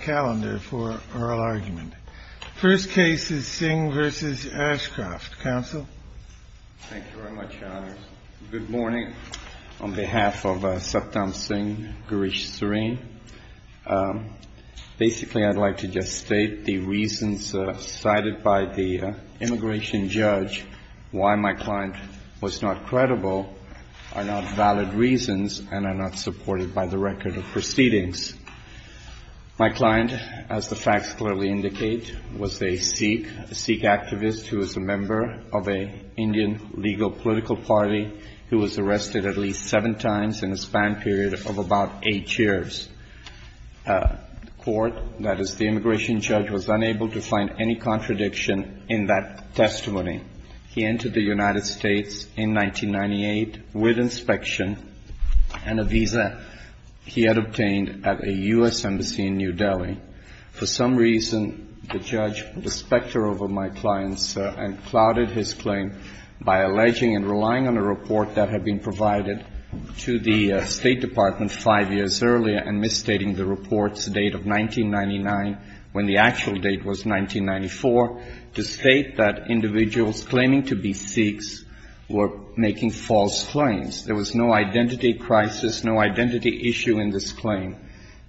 Calendar for Oral Argument. First case is Singh v. Ashcroft. Counsel? Thank you very much, Your Honors. Good morning. On behalf of Saptamsingh Girish Srin, basically I'd like to just state the reasons cited by the immigration judge. Why my client was not my client, as the facts clearly indicate, was a Sikh, a Sikh activist who was a member of an Indian legal political party who was arrested at least seven times in a span period of about eight years. The court, that is the immigration judge, was unable to find any contradiction in that testimony. He entered the United States in 1998 with inspection and a visa he had obtained at a U.S. embassy in New Delhi. For some reason, the judge put a specter over my client's and clouded his claim by alleging and relying on a report that had been provided to the State Department five years earlier and misstating the report's date of 1999 when the actual date was 1994 to state that individuals claiming to be Sikhs were making false claims. There was no identity crisis, no identity issue in this claim.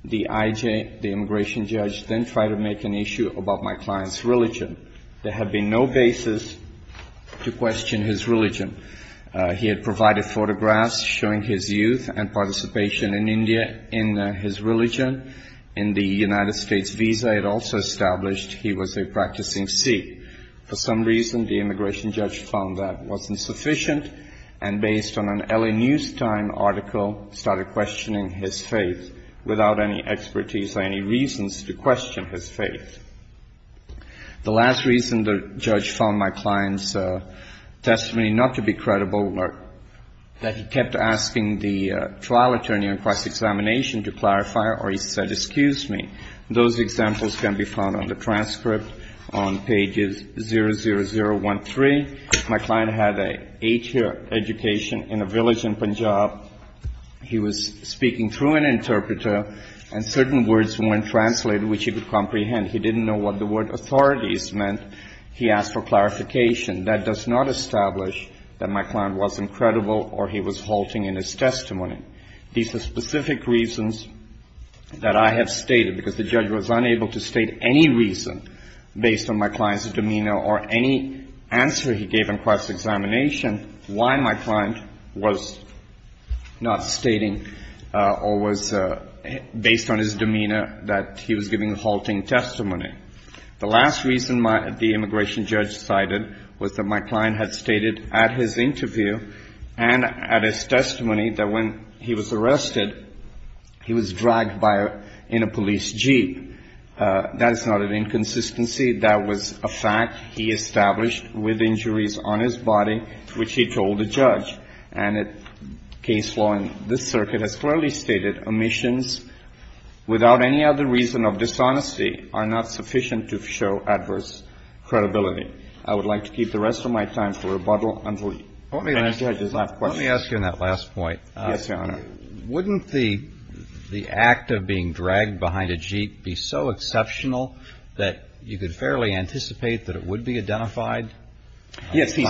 The IJ, the immigration judge, then tried to make an issue about my client's religion. There had been no basis to question his religion. He had provided photographs showing his youth and participation in India in his religion. In the United States visa, it also established he was a practicing Sikh. For some reason, the immigration judge found that wasn't sufficient and based on an LA News Time article, started questioning his faith without any expertise or any reasons to question his faith. The last reason the judge found my client's testimony not to be credible, that he kept asking the trial attorney on cross-examination to clarify or he said, excuse me. Those examples can be found on the transcript on pages 00013. My client had an eight-year education in a village in Punjab. He was speaking through an interpreter and certain words weren't translated which he could comprehend. He didn't know what the word authorities meant. He asked for clarification. That does not establish that my client wasn't credible or he was halting in his testimony. These are specific reasons that I have stated because the judge was unable to state any reason based on my client's demeanor or any answer he gave on cross-examination why my client was not stating or was based on his demeanor that he was giving halting testimony. The last reason the immigration judge cited was that my client had stated at his interview and at his testimony that when he was arrested, he was dragged in a police jeep. That is not an inconsistency. That was a fact. He established with injuries on his body which he told the judge. And case law in this circuit has clearly stated omissions without any other reason of dishonesty are not sufficient to show adverse credibility. I would like to keep the rest of my time for rebuttal until any judges have questions. Let me ask you on that last point. Yes, Your Honor. Wouldn't the act of being dragged behind a jeep be so exceptional that you could fairly anticipate that it would be identified? Yes, Your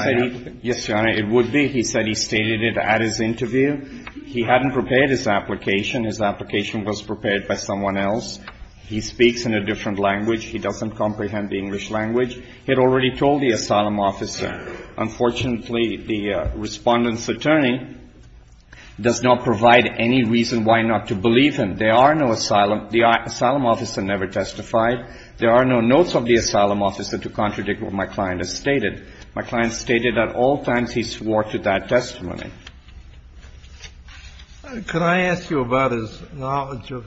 Honor, it would be. He said he stated it at his interview. He hadn't prepared his application. His application was prepared by someone else. He speaks in a different language. He doesn't comprehend the English language. He had already told the asylum officer. Unfortunately, the respondent's attorney does not provide any reason why not to believe him. There are no asylum. The asylum officer never testified. There are no notes of the asylum officer to contradict what my client has stated. My client stated at all times he swore to that testimony. Could I ask you about his knowledge of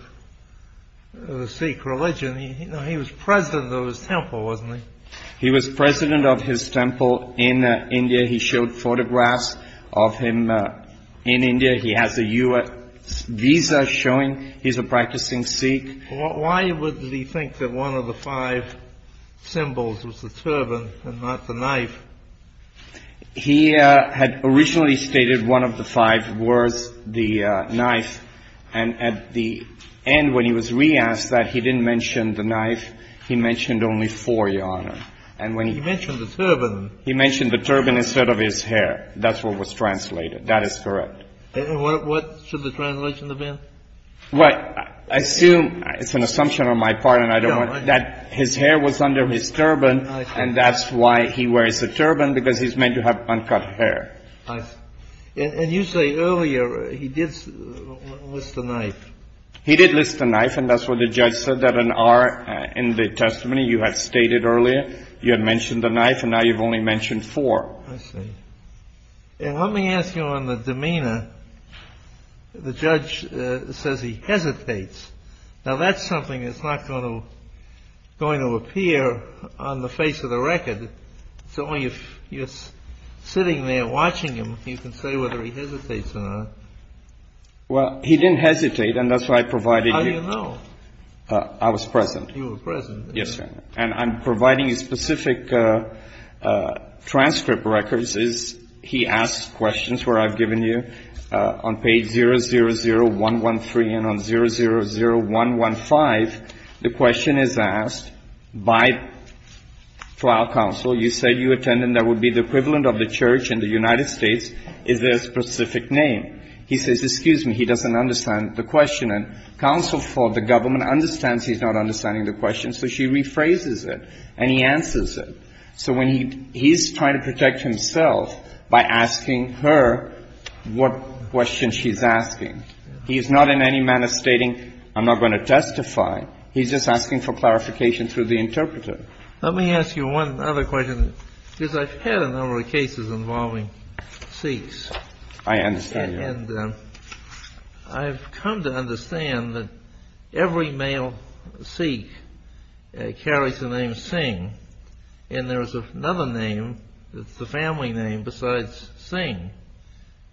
the Sikh religion? He was president of his temple, wasn't he? He was president of his temple in India. He showed photographs of him in India. He has a U.S. visa showing he's a practicing Sikh. Why would he think that one of the five symbols was the turban and not the knife? He had originally stated one of the five was the knife. And at the end, when he was re-asked that, he didn't mention the knife. He mentioned only four, Your Honor. He mentioned the turban. He mentioned the turban instead of his hair. That's what was translated. That is correct. What should the translation have been? I assume, it's an assumption on my part, that his hair was under his turban, and that's why he wears a turban, because he's meant to have uncut hair. And you say earlier he did list the knife. He did list the knife, and that's what the judge said, that an R in the testimony you had stated earlier, you had mentioned the knife, and now you've only mentioned four. I see. And let me ask you on the demeanor. The judge says he hesitates. Now, that's something that's not going to appear on the face of the record. It's only if you're sitting there watching him, you can say whether he hesitates or not. Well, he didn't hesitate, and that's why I provided you. How do you know? I was present. You were present. Yes, Your Honor. And I'm providing you specific transcript records. He asks questions where I've given you. On page 000113 and on 000115, the question is asked by trial counsel, you said you attended, and that would be the equivalent of the church in the United States. Is there a specific name? He says, excuse me, he doesn't understand the question. And counsel for the government understands he's not understanding the question, so she rephrases it, and he answers it. So when he's trying to protect himself by asking her what question she's asking, he's not in any manner stating, I'm not going to testify. Let me ask you one other question, because I've had a number of cases involving Sikhs. I understand. And I've come to understand that every male Sikh carries the name Singh, and there is another name that's the family name besides Singh.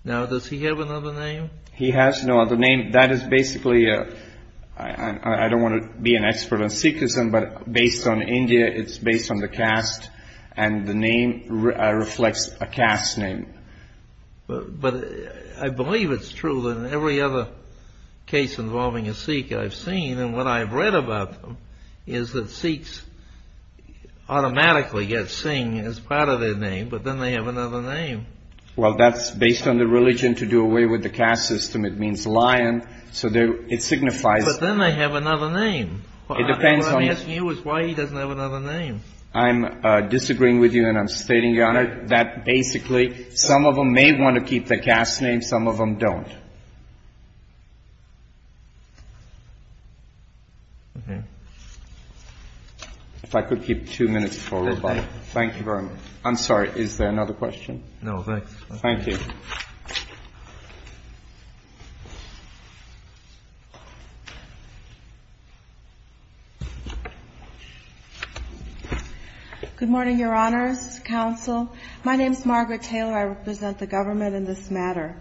Now, does he have another name? He has no other name. That is basically, I don't want to be an expert on Sikhism, but based on India, it's based on the caste, and the name reflects a caste name. But I believe it's true that in every other case involving a Sikh I've seen, and what I've read about them, is that Sikhs automatically get Singh as part of their name, but then they have another name. Well, that's based on the religion to do away with the caste system. It means lion. So it signifies... But then they have another name. What I'm asking you is why he doesn't have another name. I'm disagreeing with you, and I'm stating, Your Honor, that basically some of them may want to keep the caste name, some of them don't. If I could keep two minutes forward. Thank you very much. I'm sorry. Is there another question? No, thanks. Thank you. Good morning, Your Honors, Counsel. My name is Margaret Taylor. I represent the government in this matter.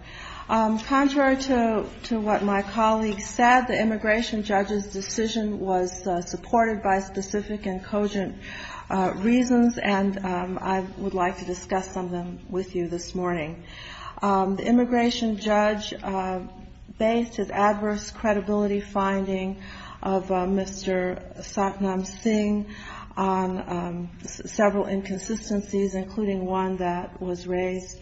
Contrary to what my colleague said, the immigration judge's decision was supported by specific and cogent reasons, and I would like to discuss some of them with you this morning. The immigration judge based his adverse credibility finding of Mr. Satnam Singh on several inconsistencies, including one that was raised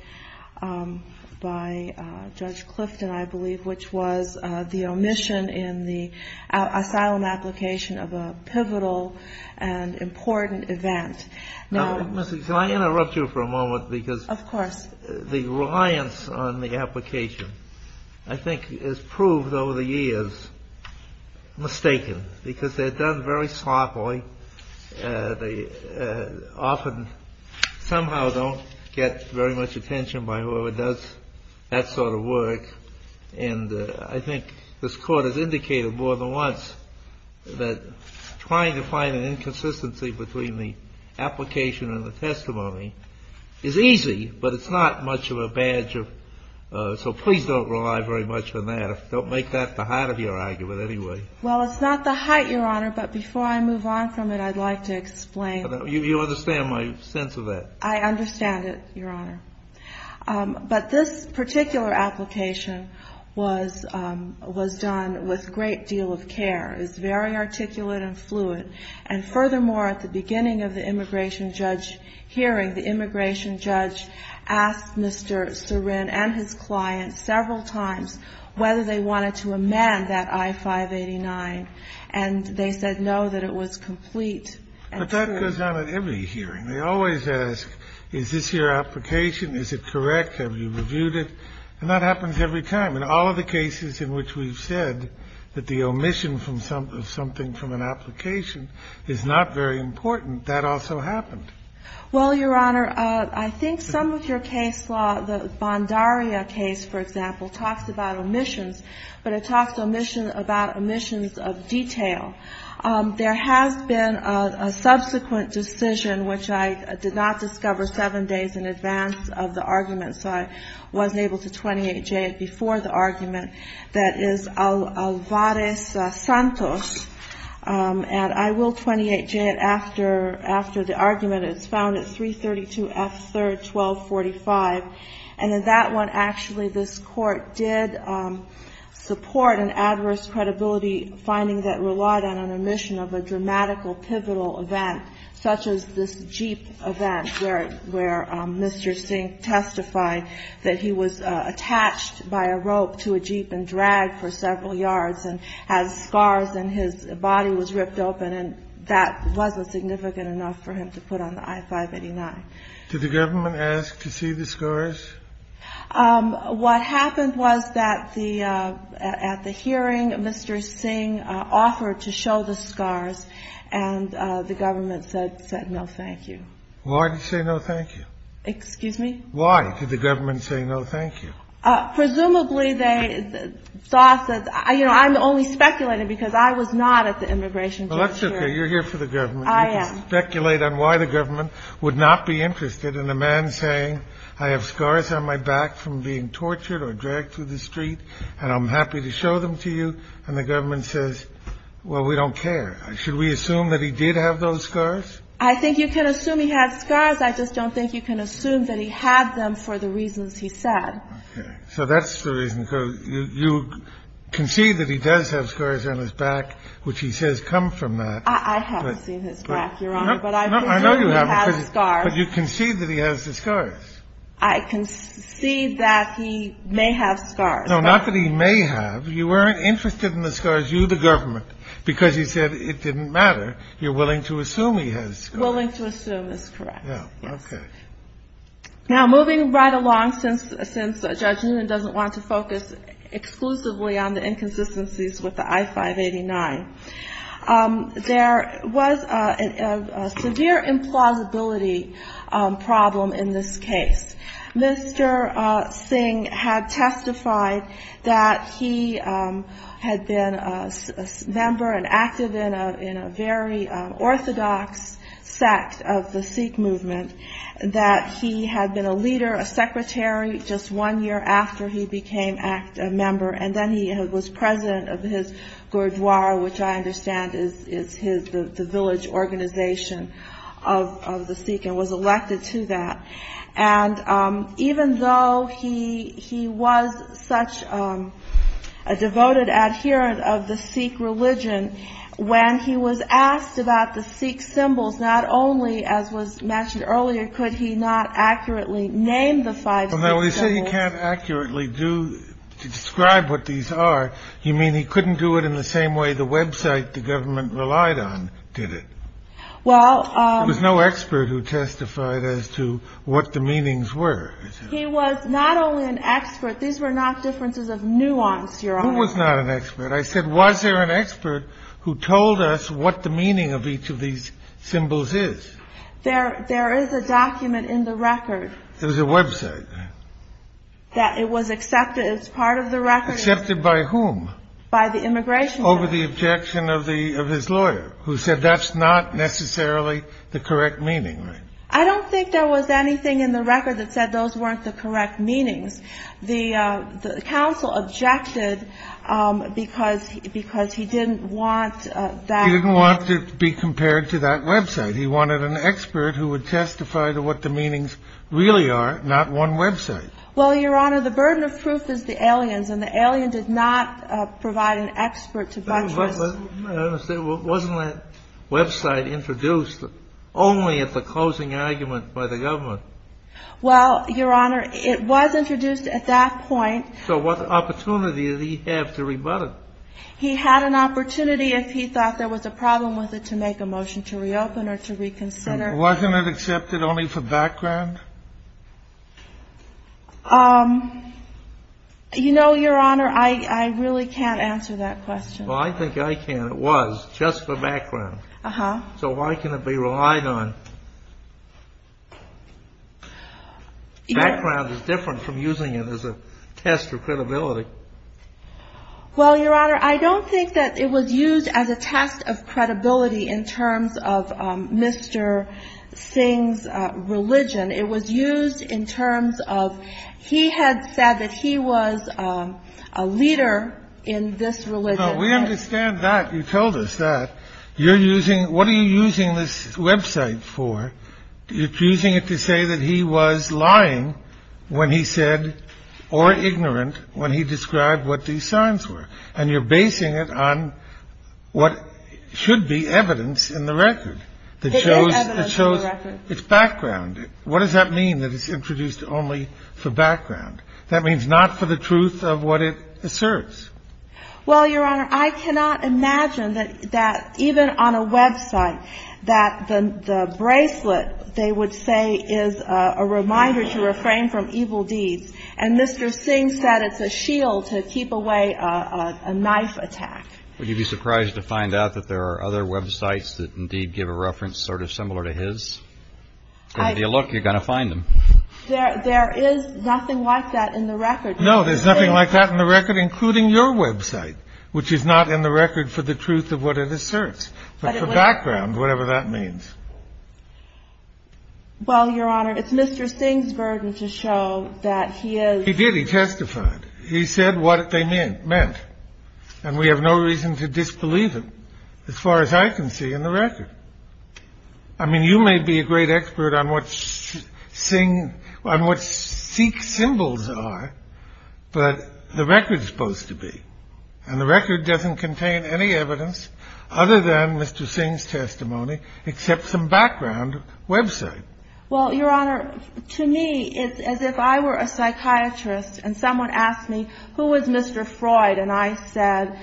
by Judge Clifton, I believe, which was the omission in the asylum application of a pivotal and important event. Now, Mrs., can I interrupt you for a moment? Of course. The reliance on the application, I think, has proved over the years mistaken, because they're done very sloppily, they often somehow don't get very much attention by whoever does that sort of work, and I think this Court has indicated more than once that trying to find an inconsistency between the application and the testimony is easy, but it's not much of a badge of, so please don't rely very much on that. Don't make that the height of your argument anyway. Well, it's not the height, Your Honor, but before I move on from it, I'd like to explain. You understand my sense of that? I understand it, Your Honor. But this particular application was done with great deal of care. It's very articulate and fluid. And furthermore, at the beginning of the immigration judge hearing, the immigration judge asked Mr. Cerin and his client several times whether they wanted to amend that I-589, and they said no, that it was complete and true. But that goes on at every hearing. They always ask, is this your application, is it correct, have you reviewed it, and that happens every time. In all of the cases in which we've said that the omission of something from an application is not very important, that also happened. Well, Your Honor, I think some of your case law, the Bondaria case, for example, talks about omissions, but it talks about omissions of detail. There has been a subsequent decision, which I did not discover seven days in advance of the argument, so I wasn't able to 28J it before the argument, that is Alvarez-Santos. And I will 28J it after the argument. It's found at 332 F. 3rd 1245. And in that one, actually, this Court did support an adverse credibility finding that relied on an omission of a dramatical pivotal event, such as this Jeep event, where Mr. Singh testified that he was attached by a rope to a Jeep and dragged for several yards and had scars and his body was ripped open, and that wasn't significant enough for him to put on the I-589. Did the government ask to see the scars? What happened was that at the hearing, Mr. Singh offered to show the scars, and the government said no, thank you. Why did you say no, thank you? Excuse me? Why did the government say no, thank you? Presumably they thought that, you know, I'm only speculating because I was not at the immigration judge hearing. Well, that's okay. You're here for the government. I am. You can speculate on why the government would not be interested in a man saying, I have scars on my back from being tortured or dragged through the street, and I'm happy to show them to you. And the government says, well, we don't care. Should we assume that he did have those scars? I think you can assume he had scars. I just don't think you can assume that he had them for the reasons he said. Okay. So that's the reason, because you concede that he does have scars on his back, which he says come from that. I haven't seen his back, Your Honor, but I presume he has scars. No, I know you haven't, but you concede that he has the scars. I concede that he may have scars. No, not that he may have. You weren't interested in the scars, you, the government, because you said it didn't matter. You're willing to assume he has scars. Willing to assume is correct, yes. Okay. Now, moving right along, since Judge Newman doesn't want to focus exclusively on the inconsistencies with the I-589, there was a severe implausibility problem in this case. Mr. Singh had testified that he had been a member and active in a very orthodox sect of the Sikh movement, that he had been a leader, a secretary, just one year after he became a member, and then he was president of his gurdwara, which I understand is the village organization of the Sikh, and was elected to that, and even though he was such a devoted adherent of the Sikh religion, when he was asked about the Sikh symbols, not only, as was mentioned earlier, could he not accurately name the five Sikh symbols. Well, now, when you say he can't accurately describe what these are, you mean he couldn't do it in the same way the website the government relied on did it? There was no expert who testified as to what the meanings were. He was not only an expert. These were not differences of nuance, Your Honor. Who was not an expert? I said, was there an expert who told us what the meaning of each of these symbols is? There is a document in the record. It was a website. That it was accepted as part of the record. Accepted by whom? By the immigration judge. Over the objection of his lawyer, who said that's not necessarily the correct meaning, right? I don't think there was anything in the record that said those weren't the correct meanings. The counsel objected because he didn't want that. He didn't want it to be compared to that website. He wanted an expert who would testify to what the meanings really are, not one website. Well, Your Honor, the burden of proof is the aliens. And the alien did not provide an expert to buttress. Wasn't that website introduced only at the closing argument by the government? Well, Your Honor, it was introduced at that point. So what opportunity did he have to rebut it? He had an opportunity if he thought there was a problem with it to make a motion to reopen or to reconsider. And wasn't it accepted only for background? You know, Your Honor, I really can't answer that question. Well, I think I can. It was just for background. Uh-huh. So why can it be relied on? Background is different from using it as a test of credibility. Well, Your Honor, I don't think that it was used as a test of credibility in terms of Mr. Singh's religion. It was used in terms of he had said that he was a leader in this religion. We understand that. You told us that. You're using what are you using this website for? You're using it to say that he was lying when he said or ignorant when he described what these signs were. And you're basing it on what should be evidence in the record. It is evidence in the record. It's background. What does that mean that it's introduced only for background? That means not for the truth of what it asserts. Well, Your Honor, I cannot imagine that even on a website that the bracelet, they would say, is a reminder to refrain from evil deeds. And Mr. Singh said it's a shield to keep away a knife attack. Would you be surprised to find out that there are other websites that indeed give a reference sort of similar to his? And if you look, you're going to find them. There is nothing like that in the record. No, there's nothing like that in the record, including your website, which is not in the record for the truth of what it asserts. But the background, whatever that means. Well, Your Honor, it's Mr. Singh's burden to show that he is. He did. He testified. He said what they meant meant. And we have no reason to disbelieve him as far as I can see in the record. I mean, you may be a great expert on what Singh, on what Sikh symbols are, but the record's supposed to be. And the record doesn't contain any evidence other than Mr. Singh's testimony, except some background website. Well, Your Honor, to me, it's as if I were a psychiatrist and someone asked me, who is Mr. Freud? And I said,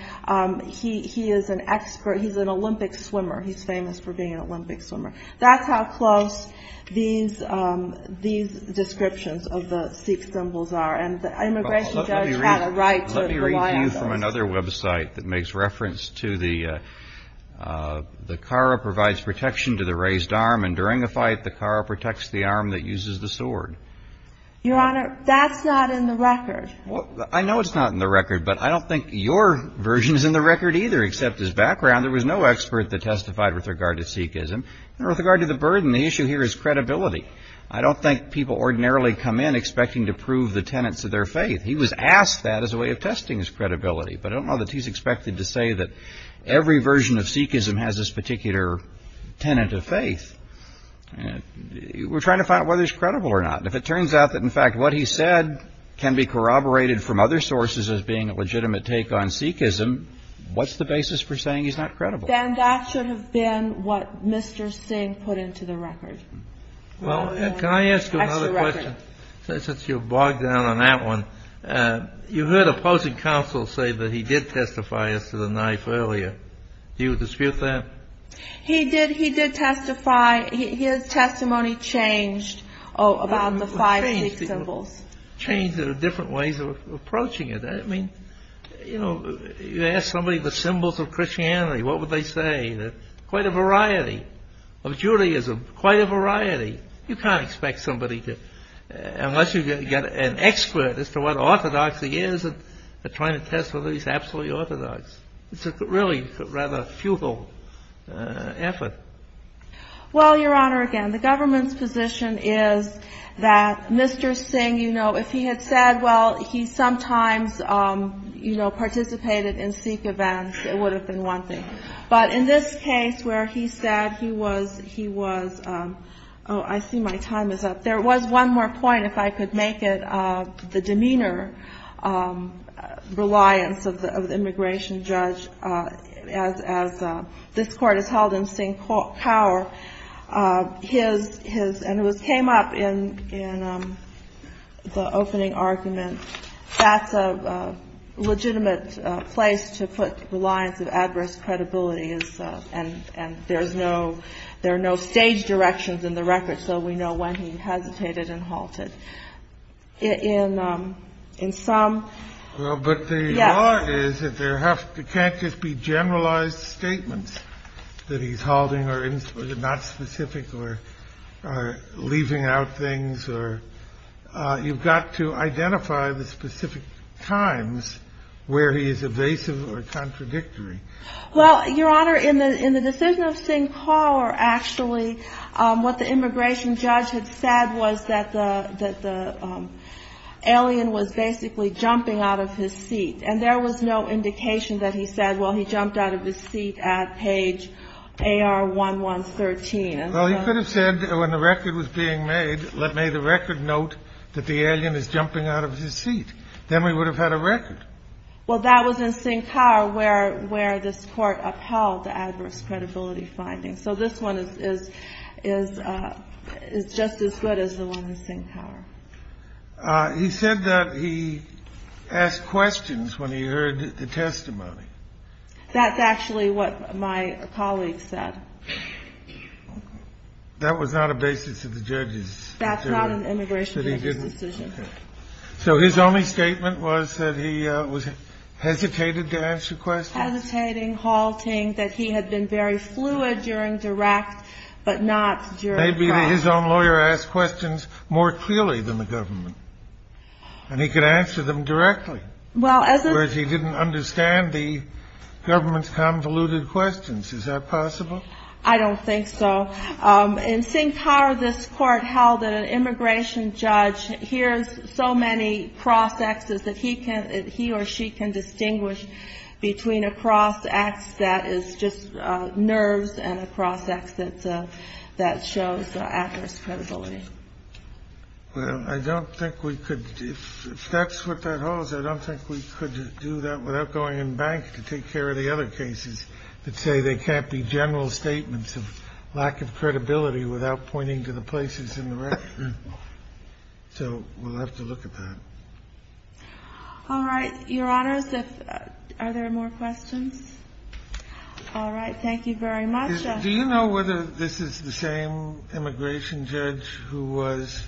he is an expert. He's an Olympic swimmer. He's famous for being an Olympic swimmer. That's how close these descriptions of the Sikh symbols are. And the immigration judge had a right to rely on those. Let me read to you from another website that makes reference to the kara provides protection to the raised arm. And during a fight, the kara protects the arm that uses the sword. Your Honor, that's not in the record. Well, I know it's not in the record, but I don't think your version is in the record either, except his background. There was no expert that testified with regard to Sikhism. And with regard to the burden, the issue here is credibility. I don't think people ordinarily come in expecting to prove the tenets of their faith. He was asked that as a way of testing his credibility. But I don't know that he's expected to say that every version of Sikhism has this particular tenet of faith. We're trying to find out whether it's credible or not. If it turns out that, in fact, what he said can be corroborated from other sources as being a legitimate take on Sikhism, what's the basis for saying he's not credible? Then that should have been what Mr. Singh put into the record. Well, can I ask you another question? Since you've bogged down on that one, you heard opposing counsel say that he did testify as to the knife earlier. Do you dispute that? He did. He did testify. His testimony changed about the five Sikh symbols. Changed. There are different ways of approaching it. I mean, you ask somebody the symbols of Christianity, what would they say? Quite a variety of Judaism. Quite a variety. You can't expect somebody to, unless you've got an expert as to what orthodoxy is, trying to test whether he's absolutely orthodox. It's really a rather futile effort. Well, Your Honor, again, the government's position is that Mr. Singh, you know, if he had said, well, he sometimes, you know, participated in Sikh events, it would have been one thing. But in this case where he said he was, he was, oh, I see my time is up. There was one more point, if I could make it, the demeanor reliance of the immigration judge as this Court has held in Singh Court. His, and it came up in the opening argument. That's a legitimate place to put reliance of adverse credibility. And there's no, there are no stage directions in the record. So we know when he hesitated and halted. In some. Well, but the law is that there have to, can't just be generalized statements that he's halting or not specific or leaving out things. Or you've got to identify the specific times where he is evasive or contradictory. Well, Your Honor, in the, in the decision of Singh Kaur, actually, what the immigration judge had said was that the, that the alien was basically jumping out of his seat. And there was no indication that he said, well, he jumped out of his seat at page AR1113. Well, he could have said when the record was being made, let me the record note that the alien is jumping out of his seat. Then we would have had a record. Well, that was in Singh Kaur where, where this court upheld the adverse credibility findings. So this one is, is, is, is just as good as the one in Singh Kaur. He said that he asked questions when he heard the testimony. That's actually what my colleague said. That was not a basis of the judges. That's not an immigration decision. So his only statement was that he was hesitated to answer questions. Hesitating, halting, that he had been very fluid during direct, but not during practical. Maybe his own lawyer asked questions more clearly than the government. And he could answer them directly. Well, as. Whereas he didn't understand the government's convoluted questions. Is that possible? I don't think so. In Singh Kaur, this court held that an immigration judge hears so many cross-exes that he can, he or she can distinguish between a cross-ex that is just nerves and a cross-ex that, that shows adverse credibility. Well, I don't think we could. If that's what that holds, I don't think we could do that without going in bank to take care of the other cases that say they can't be general statements of lack of credibility without pointing to the places in the record. So we'll have to look at that. All right. Your Honor, are there more questions? All right. Thank you very much. Do you know whether this is the same immigration judge who was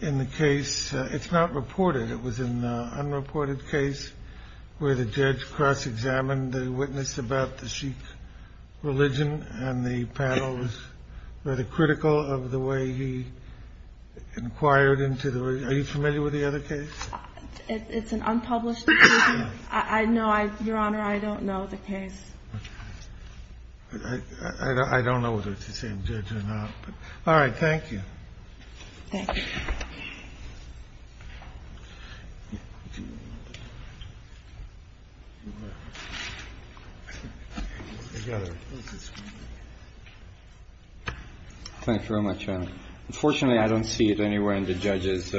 in the case? It's not reported. It was an unreported case where the judge cross-examined the witness about the Sikh religion. And the panel was rather critical of the way he inquired into the. Are you familiar with the other case? It's an unpublished. I know. Your Honor, I don't know the case. I don't know whether it's the same judge or not. All right. Thank you. Thank you. Thank you very much. Unfortunately, I don't see it anywhere in the judge's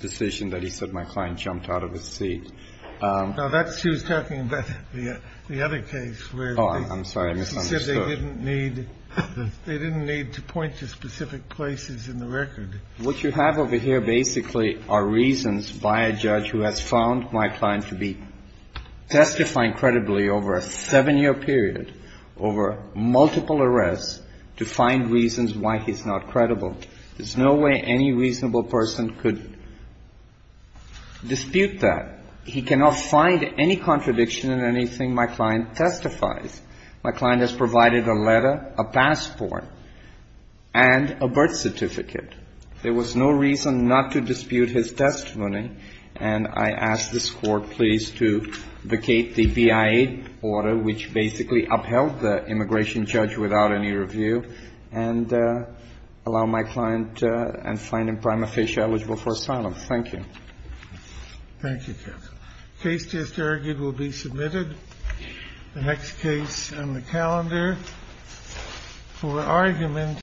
decision that he said my client jumped out of his seat. Now, that's who's talking about the other case where. I'm sorry. They didn't need to point to specific places in the record. What you have over here basically are reasons by a judge who has found my client to be testifying credibly over a seven-year period, over multiple arrests, to find reasons why he's not credible. There's no way any reasonable person could dispute that. He cannot find any contradiction in anything my client testifies. My client has provided a letter, a passport, and a birth certificate. There was no reason not to dispute his testimony, and I ask this Court, please, to vacate the BIA order, which basically upheld the immigration judge without any review, and allow my client and find him prima facie eligible for asylum. Thank you. Thank you, counsel. Case test argued will be submitted. The next case on the calendar for argument.